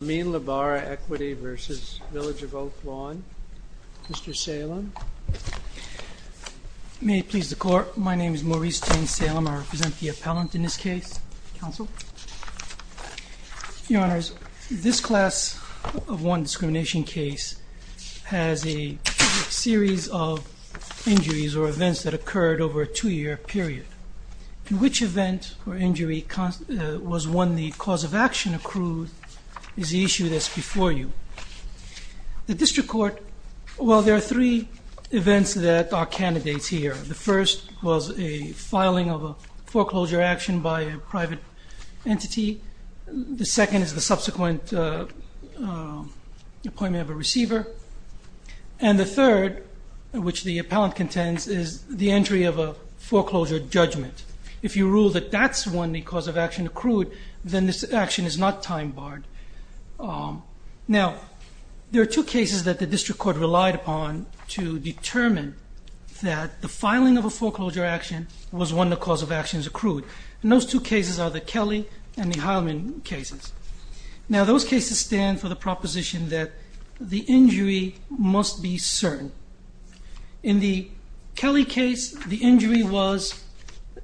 Amin Ijbara Equity Corp v. Village of Oak Lawn Mr. Salem May it please the Court, my name is Maurice Tain Salem, I represent the appellant in this case Your Honours, this class of one discrimination case has a series of injuries or events that occurred over a two year period In which event or injury was one the cause of action accrued is the issue that's before you The District Court, well there are three events that are candidates here The first was a filing of a foreclosure action by a private entity The second is the subsequent appointment of a receiver And the third, which the appellant contends, is the entry of a foreclosure judgment If you rule that that's when the cause of action accrued, then this action is not time barred Now, there are two cases that the District Court relied upon to determine that the filing of a foreclosure action was when the cause of action was accrued And those two cases are the Kelly and the Heilman cases Now those cases stand for the proposition that the injury must be certain In the Kelly case, the injury was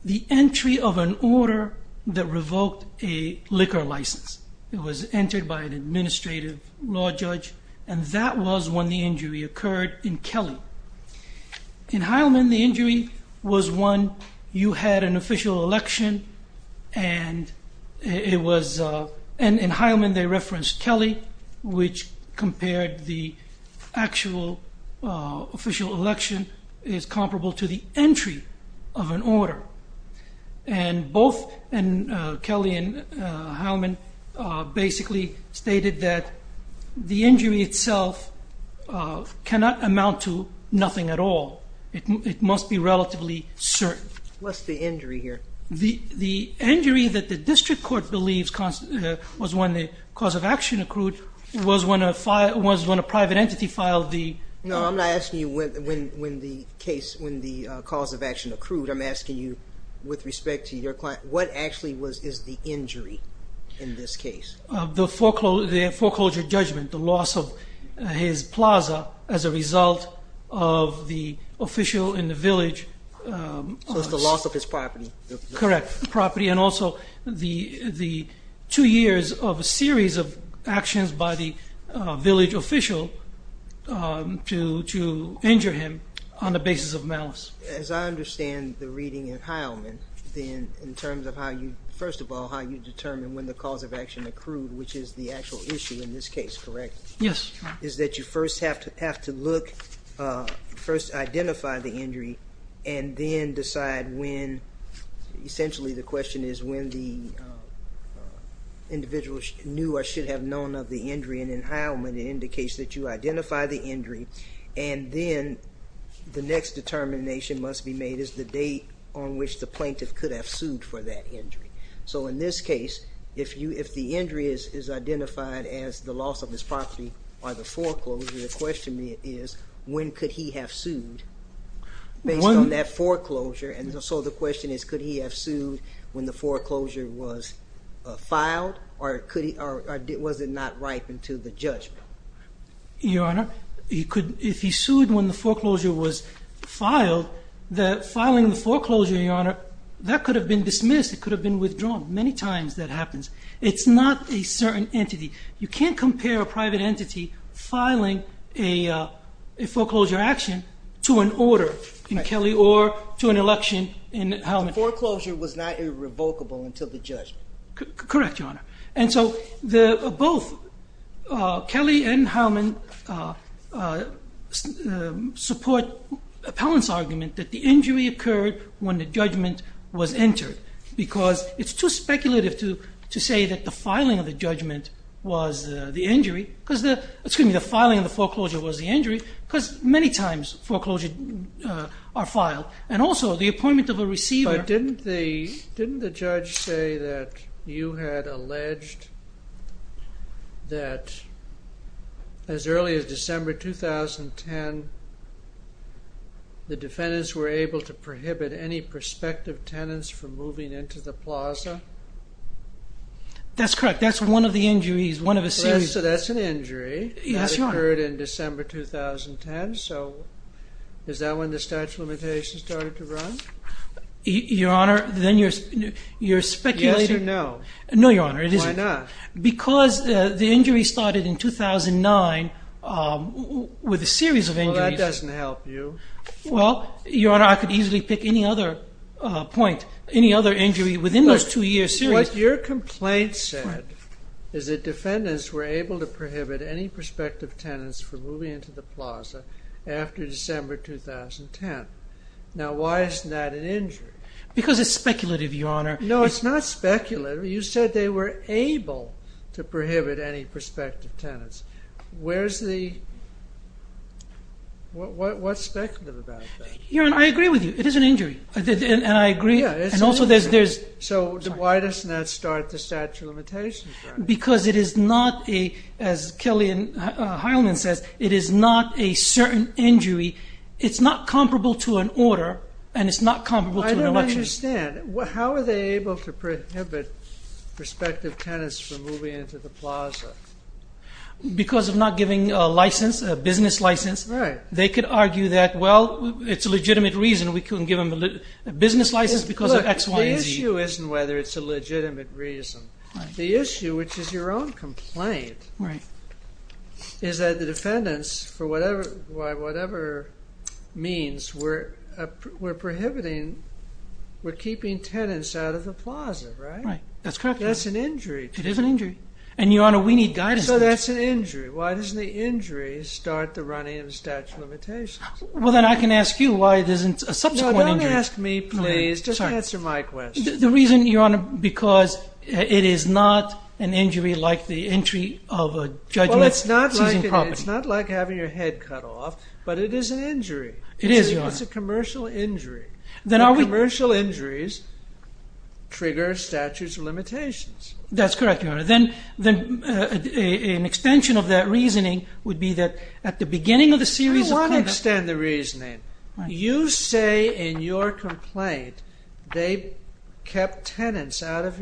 the entry of an order that revoked a liquor license It was entered by an administrative law judge and that was when the injury occurred in Kelly In Heilman the injury was when you had an official election And in Heilman they referenced Kelly Which compared the actual official election is comparable to the entry of an order And both Kelly and Heilman basically stated that the injury itself cannot amount to nothing at all It must be relatively certain What's the injury here? The injury that the District Court believes was when the cause of action accrued was when a private entity filed the... No, I'm not asking you when the cause of action accrued I'm asking you with respect to your client, what actually is the injury in this case? The foreclosure judgment, the loss of his plaza as a result of the official in the village So it's the loss of his property And also the two years of a series of actions by the village official to injure him on the basis of malice As I understand the reading in Heilman, in terms of how you, first of all, how you determine when the cause of action accrued Which is the actual issue in this case, correct? Yes Is that you first have to look, first identify the injury and then decide when Essentially the question is when the individual knew or should have known of the injury And in Heilman it indicates that you identify the injury And then the next determination must be made is the date on which the plaintiff could have sued for that injury So in this case, if the injury is identified as the loss of his property or the foreclosure The question is when could he have sued based on that foreclosure And so the question is could he have sued when the foreclosure was filed Or was it not ripe until the judgment? Your Honor, if he sued when the foreclosure was filed Filing the foreclosure, Your Honor, that could have been dismissed, it could have been withdrawn Many times that happens It's not a certain entity You can't compare a private entity filing a foreclosure action to an order in Kelly or to an election in Heilman The foreclosure was not irrevocable until the judgment Correct, Your Honor And so both Kelly and Heilman support Appellant's argument that the injury occurred when the judgment was entered Because it's too speculative to say that the filing of the judgment was the injury Excuse me, the filing of the foreclosure was the injury Because many times foreclosures are filed And also the appointment of a receiver Didn't the judge say that you had alleged that as early as December 2010 The defendants were able to prohibit any prospective tenants from moving into the plaza? That's correct, that's one of the injuries, one of the series So that's an injury Yes, Your Honor That occurred in December 2010 So is that when the statute of limitations started to run? Your Honor, then you're speculating Yes or no? No, Your Honor, it isn't Why not? Because the injury started in 2009 with a series of injuries Well, that doesn't help you Well, Your Honor, I could easily pick any other point, any other injury within those two years What your complaint said is that defendants were able to prohibit any prospective tenants from moving into the plaza after December 2010 Now, why isn't that an injury? Because it's speculative, Your Honor No, it's not speculative You said they were able to prohibit any prospective tenants Where's the... What's speculative about that? Your Honor, I agree with you It is an injury And I agree And also there's... So why doesn't that start the statute of limitations? Because it is not a... As Kelly Heilman says It is not a certain injury It's not comparable to an order and it's not comparable to an election I don't understand How are they able to prohibit prospective tenants from moving into the plaza? Because of not giving a license, a business license They could argue that, well, it's a legitimate reason we couldn't give them a business license because of X, Y, and Z The issue isn't whether it's a legitimate reason The issue, which is your own complaint Right Is that the defendants, for whatever... Whatever means, we're prohibiting... We're keeping tenants out of the plaza, right? Right, that's correct That's an injury It is an injury And, Your Honor, we need guidance So that's an injury Why doesn't the injury start the running of the statute of limitations? Well, then I can ask you why it isn't a subsequent injury No, don't ask me, please Just answer my question The reason, Your Honor, because it is not an injury like the entry of a judgment Well, it's not like having your head cut off, but it is an injury It is, Your Honor It's a commercial injury Commercial injuries trigger statutes of limitations That's correct, Your Honor Then an extension of that reasoning would be that at the beginning of the series of... I don't want to extend the reasoning You say in your complaint they kept tenants out of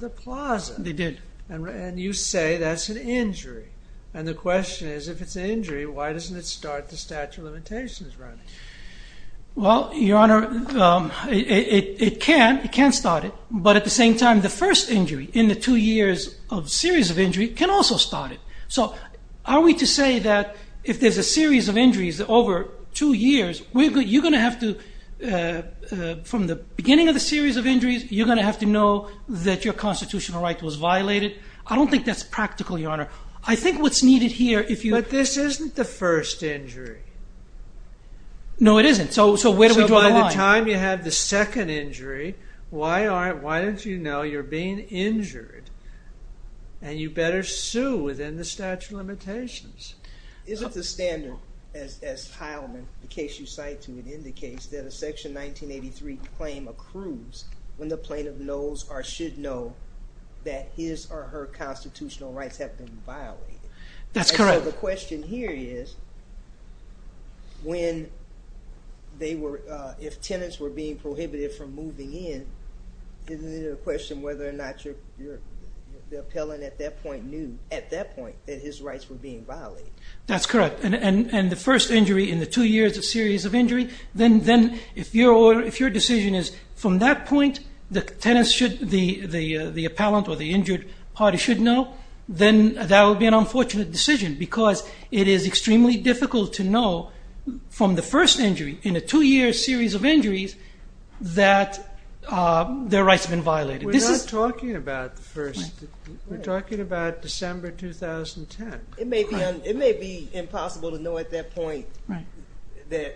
the plaza They did And you say that's an injury And the question is, if it's an injury, why doesn't it start the statute of limitations running? Well, Your Honor, it can start it But at the same time, the first injury in the two years of series of injury can also start it So, are we to say that if there's a series of injuries over two years, you're going to have to... From the beginning of the series of injuries, you're going to have to know that your constitutional right was violated I don't think that's practical, Your Honor I think what's needed here, if you... But this isn't the first injury No, it isn't So where do we draw the line? So by the time you have the second injury, why don't you know you're being injured? And you better sue within the statute of limitations Isn't the standard, as Heilman, the case you cite to it, indicates that a Section 1983 claim accrues when the plaintiff knows or should know that his or her constitutional rights have been violated? That's correct And so the question here is, when they were... Isn't it a question whether or not the appellant at that point knew, at that point, that his rights were being violated? That's correct And the first injury in the two years of series of injury, then if your decision is, from that point, the tenant should... The appellant or the injured party should know, then that would be an unfortunate decision because it is extremely difficult to know from the first injury, in a two-year series of injuries, that their rights have been violated We're not talking about the first. We're talking about December 2010 It may be impossible to know at that point that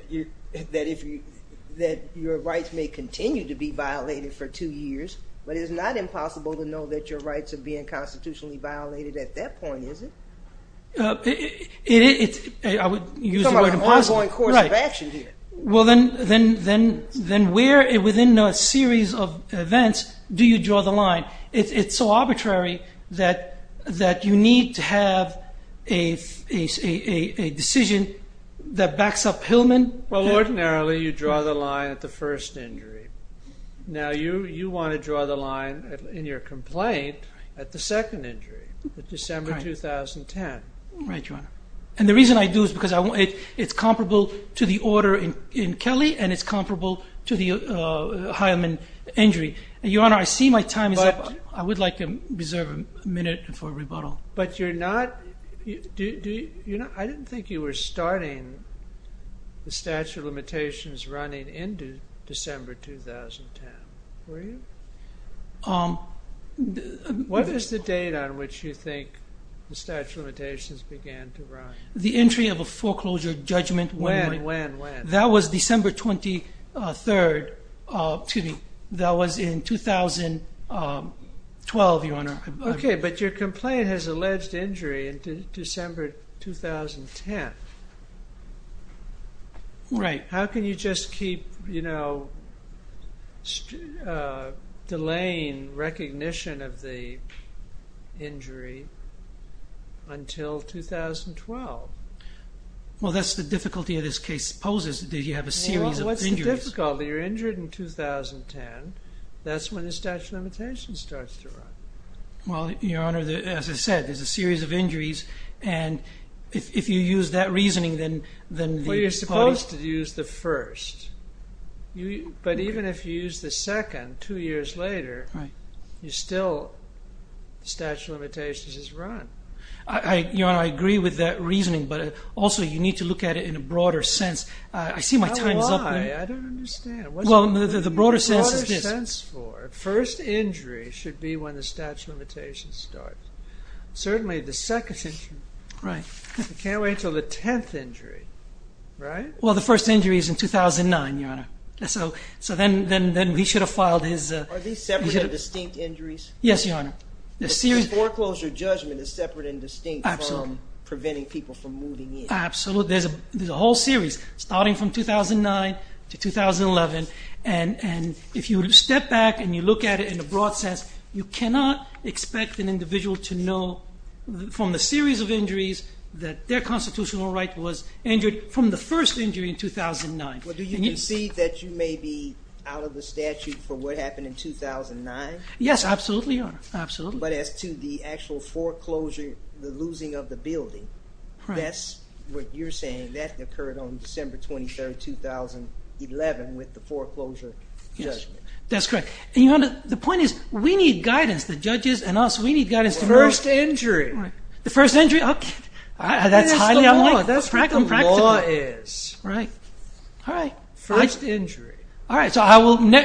your rights may continue to be violated for two years But it's not impossible to know that your rights are being constitutionally violated at that point, is it? I would use the word impossible We're talking about an ongoing course of action here Well, then where, within a series of events, do you draw the line? It's so arbitrary that you need to have a decision that backs up Heilman Well, ordinarily, you draw the line at the first injury Now, you want to draw the line, in your complaint, at the second injury, at December 2010 Right, Your Honor And the reason I do is because it's comparable to the order in Kelly and it's comparable to the Heilman injury And, Your Honor, I see my time is up I would like to reserve a minute for rebuttal I didn't think you were starting the statute of limitations running into December 2010, were you? What is the date on which you think the statute of limitations began to run? The entry of a foreclosure judgment When, when, when? That was December 23rd, excuse me, that was in 2012, Your Honor Okay, but your complaint has alleged injury in December 2010 Right How can you just keep, you know, delaying recognition of the injury until 2012? Well, that's the difficulty of this case, it poses that you have a series of injuries The difficulty, you're injured in 2010, that's when the statute of limitations starts to run Well, Your Honor, as I said, there's a series of injuries and if you use that reasoning then Well, you're supposed to use the first, but even if you use the second, two years later, you still, the statute of limitations is run Your Honor, I agree with that reasoning, but also you need to look at it in a broader sense I see my time is up now I don't understand Well, the broader sense is this The broader sense for it, first injury should be when the statute of limitations starts Certainly, the second injury Right You can't wait until the tenth injury, right? Well, the first injury is in 2009, Your Honor So, then we should have filed his Are these separate and distinct injuries? Yes, Your Honor The foreclosure judgment is separate and distinct from preventing people from moving in Absolutely, there's a whole series, starting from 2009 to 2011 And if you step back and you look at it in a broad sense, you cannot expect an individual to know from the series of injuries that their constitutional right was injured from the first injury in 2009 Well, do you concede that you may be out of the statute for what happened in 2009? Yes, absolutely, Your Honor, absolutely But as to the actual foreclosure, the losing of the building That's what you're saying, that occurred on December 23rd, 2011 with the foreclosure judgment Yes, that's correct And Your Honor, the point is, we need guidance, the judges and us, we need guidance First injury The first injury? That's highly unlikely That's what the law is Right, all right First injury All right, so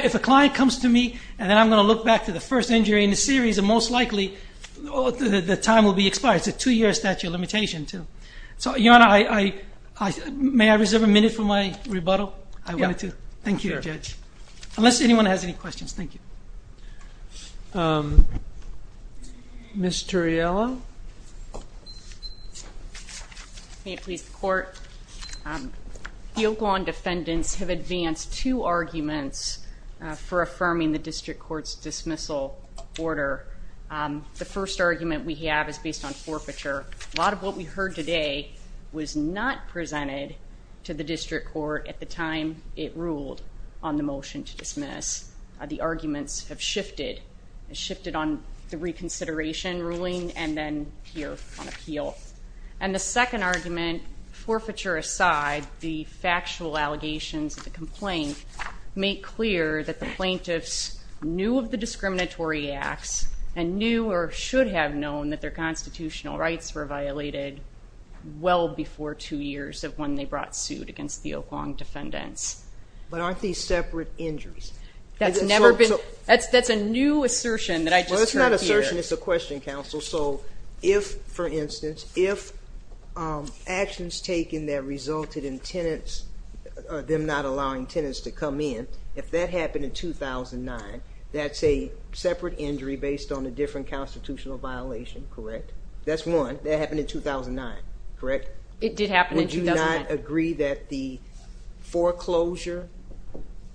if a client comes to me And then I'm going to look back to the first injury in the series And most likely, the time will be expired It's a two-year statute of limitation, too So, Your Honor, may I reserve a minute for my rebuttal? I wanted to Thank you, Judge Unless anyone has any questions, thank you Ms. Turriello May it please the Court The Oakland defendants have advanced two arguments For affirming the District Court's dismissal order The first argument we have is based on forfeiture A lot of what we heard today was not presented to the District Court At the time it ruled on the motion to dismiss The arguments have shifted And the second argument, forfeiture aside The factual allegations of the complaint Make clear that the plaintiffs knew of the discriminatory acts And knew or should have known that their constitutional rights were violated Well before two years of when they brought suit against the Oakland defendants But aren't these separate injuries? That's a new assertion that I just heard here So if, for instance, if actions taken that resulted in tenants Them not allowing tenants to come in If that happened in 2009 That's a separate injury based on a different constitutional violation, correct? That's one, that happened in 2009, correct? It did happen in 2009 Would you not agree that the foreclosure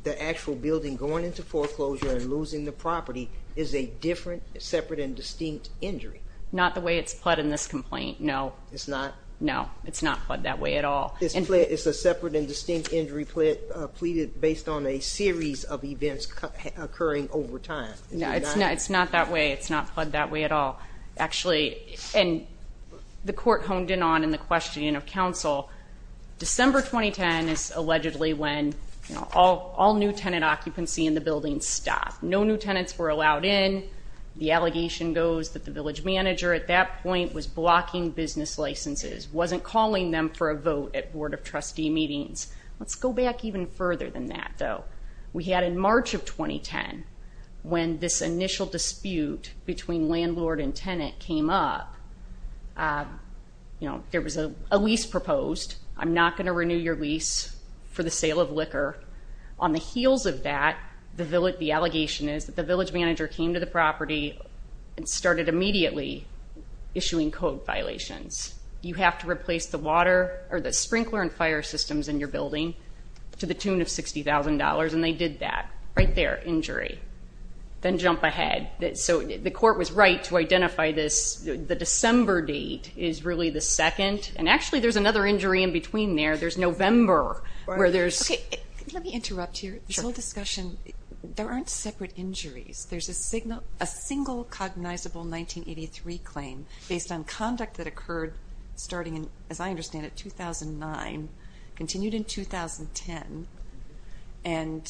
The actual building going into foreclosure and losing the property Is a different, separate and distinct injury? Not the way it's pled in this complaint, no It's not? No, it's not pled that way at all It's a separate and distinct injury Pleaded based on a series of events occurring over time It's not that way, it's not pled that way at all Actually, and the court honed in on in the question of counsel December 2010 is allegedly when All new tenant occupancy in the building stopped No new tenants were allowed in The allegation goes that the village manager at that point Was blocking business licenses Wasn't calling them for a vote at board of trustee meetings Let's go back even further than that though We had in March of 2010 When this initial dispute between landlord and tenant came up You know, there was a lease proposed I'm not going to renew your lease for the sale of liquor On the heels of that, the allegation is The village manager came to the property And started immediately issuing code violations You have to replace the sprinkler and fire systems in your building To the tune of $60,000 and they did that Right there, injury Then jump ahead So the court was right to identify this The December date is really the second And actually there's another injury in between there There's November Let me interrupt here There aren't separate injuries There's a single cognizable 1983 claim Based on conduct that occurred starting As I understand it, 2009 Continued in 2010 And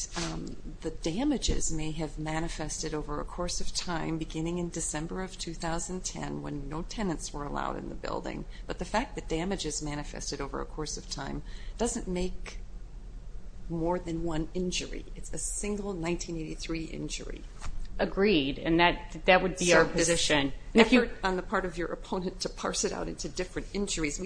the damages may have manifested over a course of time Beginning in December of 2010 When no tenants were allowed in the building But the fact that damages manifested over a course of time Doesn't make more than one injury It's a single 1983 injury Agreed, and that would be our position If you're on the part of your opponent To parse it out into different injuries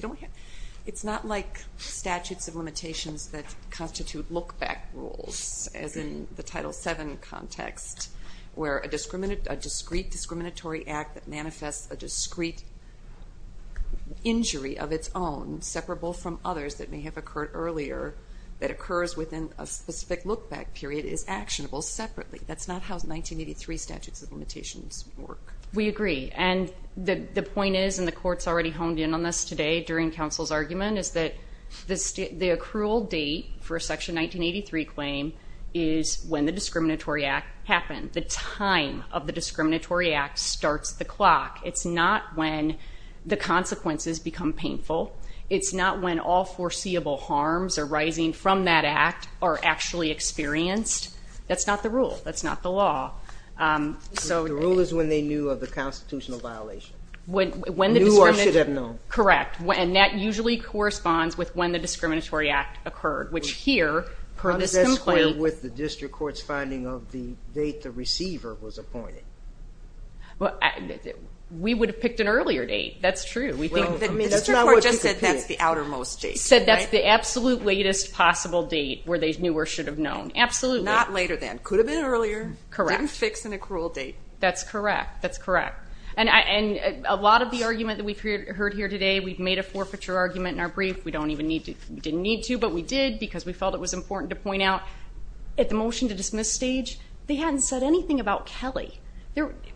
It's not like statutes of limitations That constitute look-back rules As in the Title VII context Where a discrete discriminatory act That manifests a discrete injury of its own Separable from others that may have occurred earlier That occurs within a specific look-back period Is actionable separately That's not how 1983 statutes of limitations work We agree, and the point is And the court's already honed in on this today During counsel's argument Is that the accrual date for a Section 1983 claim Is when the discriminatory act happened The time of the discriminatory act starts the clock It's not when the consequences become painful It's not when all foreseeable harms arising from that act Are actually experienced That's not the rule, that's not the law The rule is when they knew of the constitutional violation Knew or should have known Correct, and that usually corresponds With when the discriminatory act occurred Which here, per this complaint How does that square with the district court's finding Of the date the receiver was appointed? We would have picked an earlier date, that's true The district court just said that's the outermost date Said that's the absolute latest possible date Where they knew or should have known, absolutely Not later than, could have been earlier Didn't fix an accrual date That's correct, that's correct And a lot of the argument that we've heard here today We've made a forfeiture argument in our brief We didn't need to, but we did Because we felt it was important to point out At the motion to dismiss stage They hadn't said anything about Kelly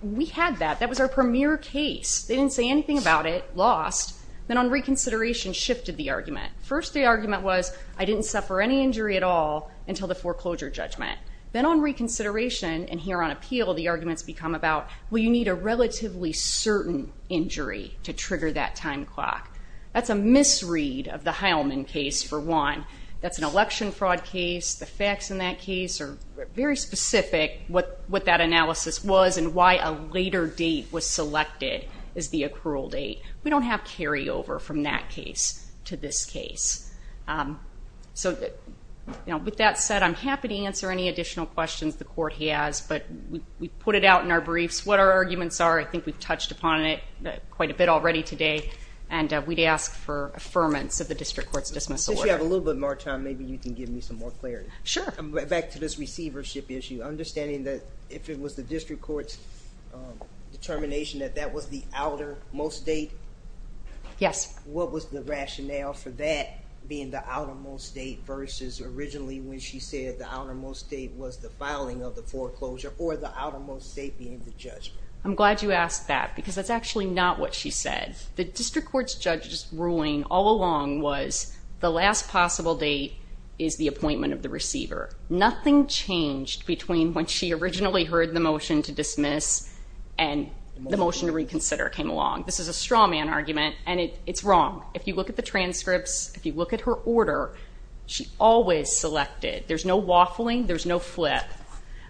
We had that, that was our premier case They didn't say anything about it, lost Then on reconsideration shifted the argument First the argument was, I didn't suffer any injury at all Until the foreclosure judgment Then on reconsideration and here on appeal The arguments become about Well you need a relatively certain injury To trigger that time clock That's a misread of the Heilman case for one That's an election fraud case The facts in that case are very specific What that analysis was And why a later date was selected Is the accrual date We don't have carry over from that case To this case So with that said I'm happy to answer any additional questions The court has, but We put it out in our briefs What our arguments are, I think we've touched upon it Quite a bit already today And we'd ask for affirmance of the district court's Dismissal order Since we have a little bit more time, maybe you can give me some more clarity Sure Back to this receivership issue Understanding that if it was the district court's Determination that That was the outermost date Yes What was the rationale for that Being the outermost date versus Originally when she said the outermost date Was the filing of the foreclosure Or the outermost date being the judgment I'm glad you asked that Because that's actually not what she said The district court's judge's ruling all along Was the last possible date Is the appointment of the receiver Nothing changed between When she originally heard the motion to dismiss And the motion to reconsider Came along This is a straw man argument And it's wrong If you look at the transcripts, if you look at her order She always selected There's no waffling, there's no flip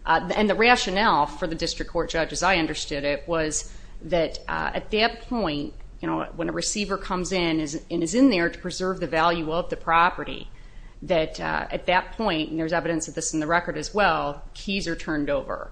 And the rationale for the district court judge As I understood it Was that at that point When a receiver comes in And is in there to preserve the value of the property That at that point And there's evidence of this in the record as well Keys are turned over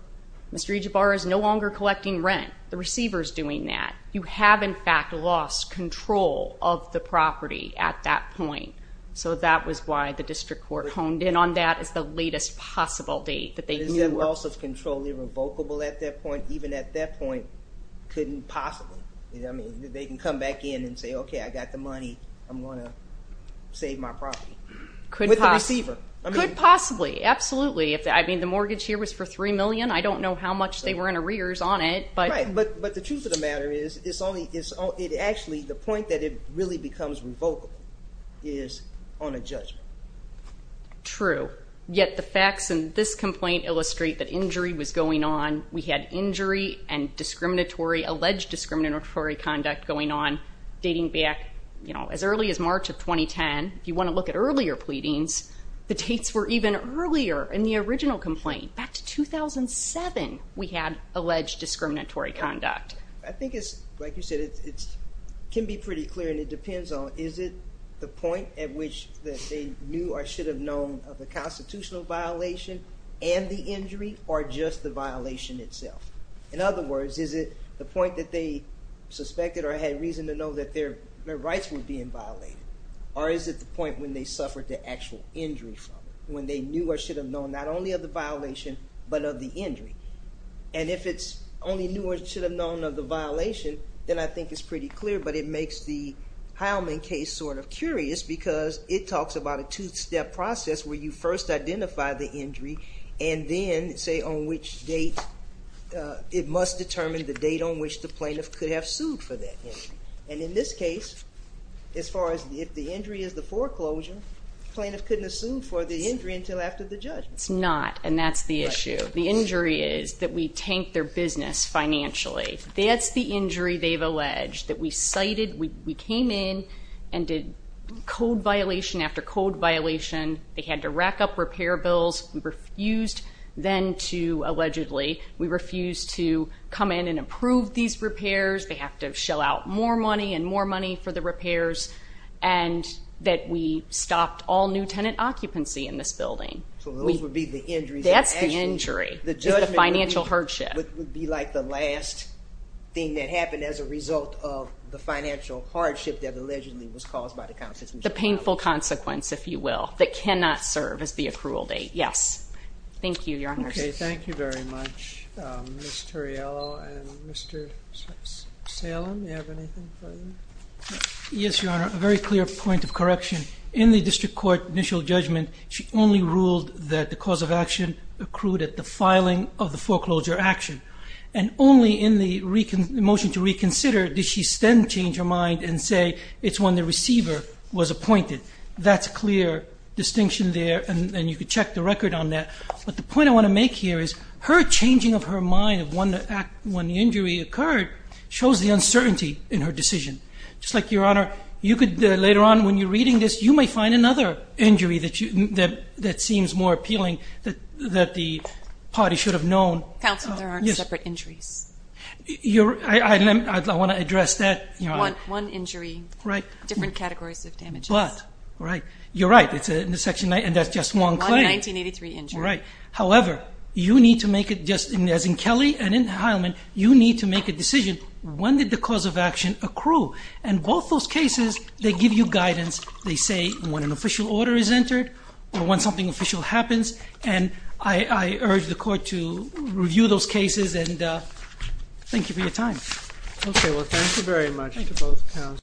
Mr. Ejibar is no longer collecting rent The receiver's doing that You have in fact lost control Of the property at that point So that was why the district court Honed in on that as the latest Possible date that they knew Loss of control, irrevocable at that point Even at that point couldn't possibly You know what I mean They can come back in and say okay I got the money I'm going to save my property With the receiver Could possibly, absolutely I mean the mortgage here was for $3 million I don't know how much they were in arrears on it But the truth of the matter is It actually The point that it really becomes revocable Is on a judgment True Yet the facts in this complaint illustrate That injury was going on We had injury and discriminatory Alleged discriminatory conduct going on Dating back as early as March Of 2010, if you want to look at earlier Pleadings, the dates were even Earlier in the original complaint Back to 2007 we had Alleged discriminatory conduct I think it's like you said It can be pretty clear and it depends On is it the point at which That they knew or should have known Of the constitutional violation And the injury or just The violation itself In other words is it the point that they Suspected or had reason to know That their rights were being violated Or is it the point when they suffered The actual injury from it When they knew or should have known not only of the violation But of the injury And if it's only knew or should have Known of the violation then I think It's pretty clear but it makes the Heilman case sort of curious because It talks about a two step process Where you first identify the injury And then say on which Date It must determine The date on which the plaintiff could have sued For that injury and in this case As far as if the injury Is the foreclosure plaintiff couldn't Assume for the injury until after the judgment It's not and that's the issue The injury is that we tanked their business Financially that's the Injury they've alleged that we cited We came in and Did code violation after Code violation they had to rack up Repair bills we refused Then to allegedly We refused to come in and Improve these repairs they have to Shell out more money and more money for the Repairs and That we stopped all new tenant Occupancy in this building That's the injury The financial hardship Would be like the last thing that Happened as a result of the financial Hardship that allegedly was caused The painful consequence If you will that cannot serve as the Approval date yes thank you Your honor okay thank you very much Ms. Turriello and Mr. Salem Do you have anything further Yes your honor a very clear point of correction In the district court initial judgment She only ruled that the cause Of action accrued at the filing Of the foreclosure action And only in the motion To reconsider did she then change her mind And say it's when the receiver Was appointed that's clear Distinction there and you can check The record on that but the point I want to make Here is her changing of her mind Of when the injury occurred Shows the uncertainty in her Decision just like your honor you Could later on when you're reading this you may Find another injury that Seems more appealing That the party should have known Counselor there aren't separate injuries I want To address that your honor one injury Different categories of damages But you're right And that's just one claim However you need To make it just as in Kelly And in Heilman you need to make a decision When did the cause of action accrue And both those cases They give you guidance they say When an official order is entered Or when something official happens And I urge the court to Review those cases and Thank you for your time Okay well thank you very much to both Counselors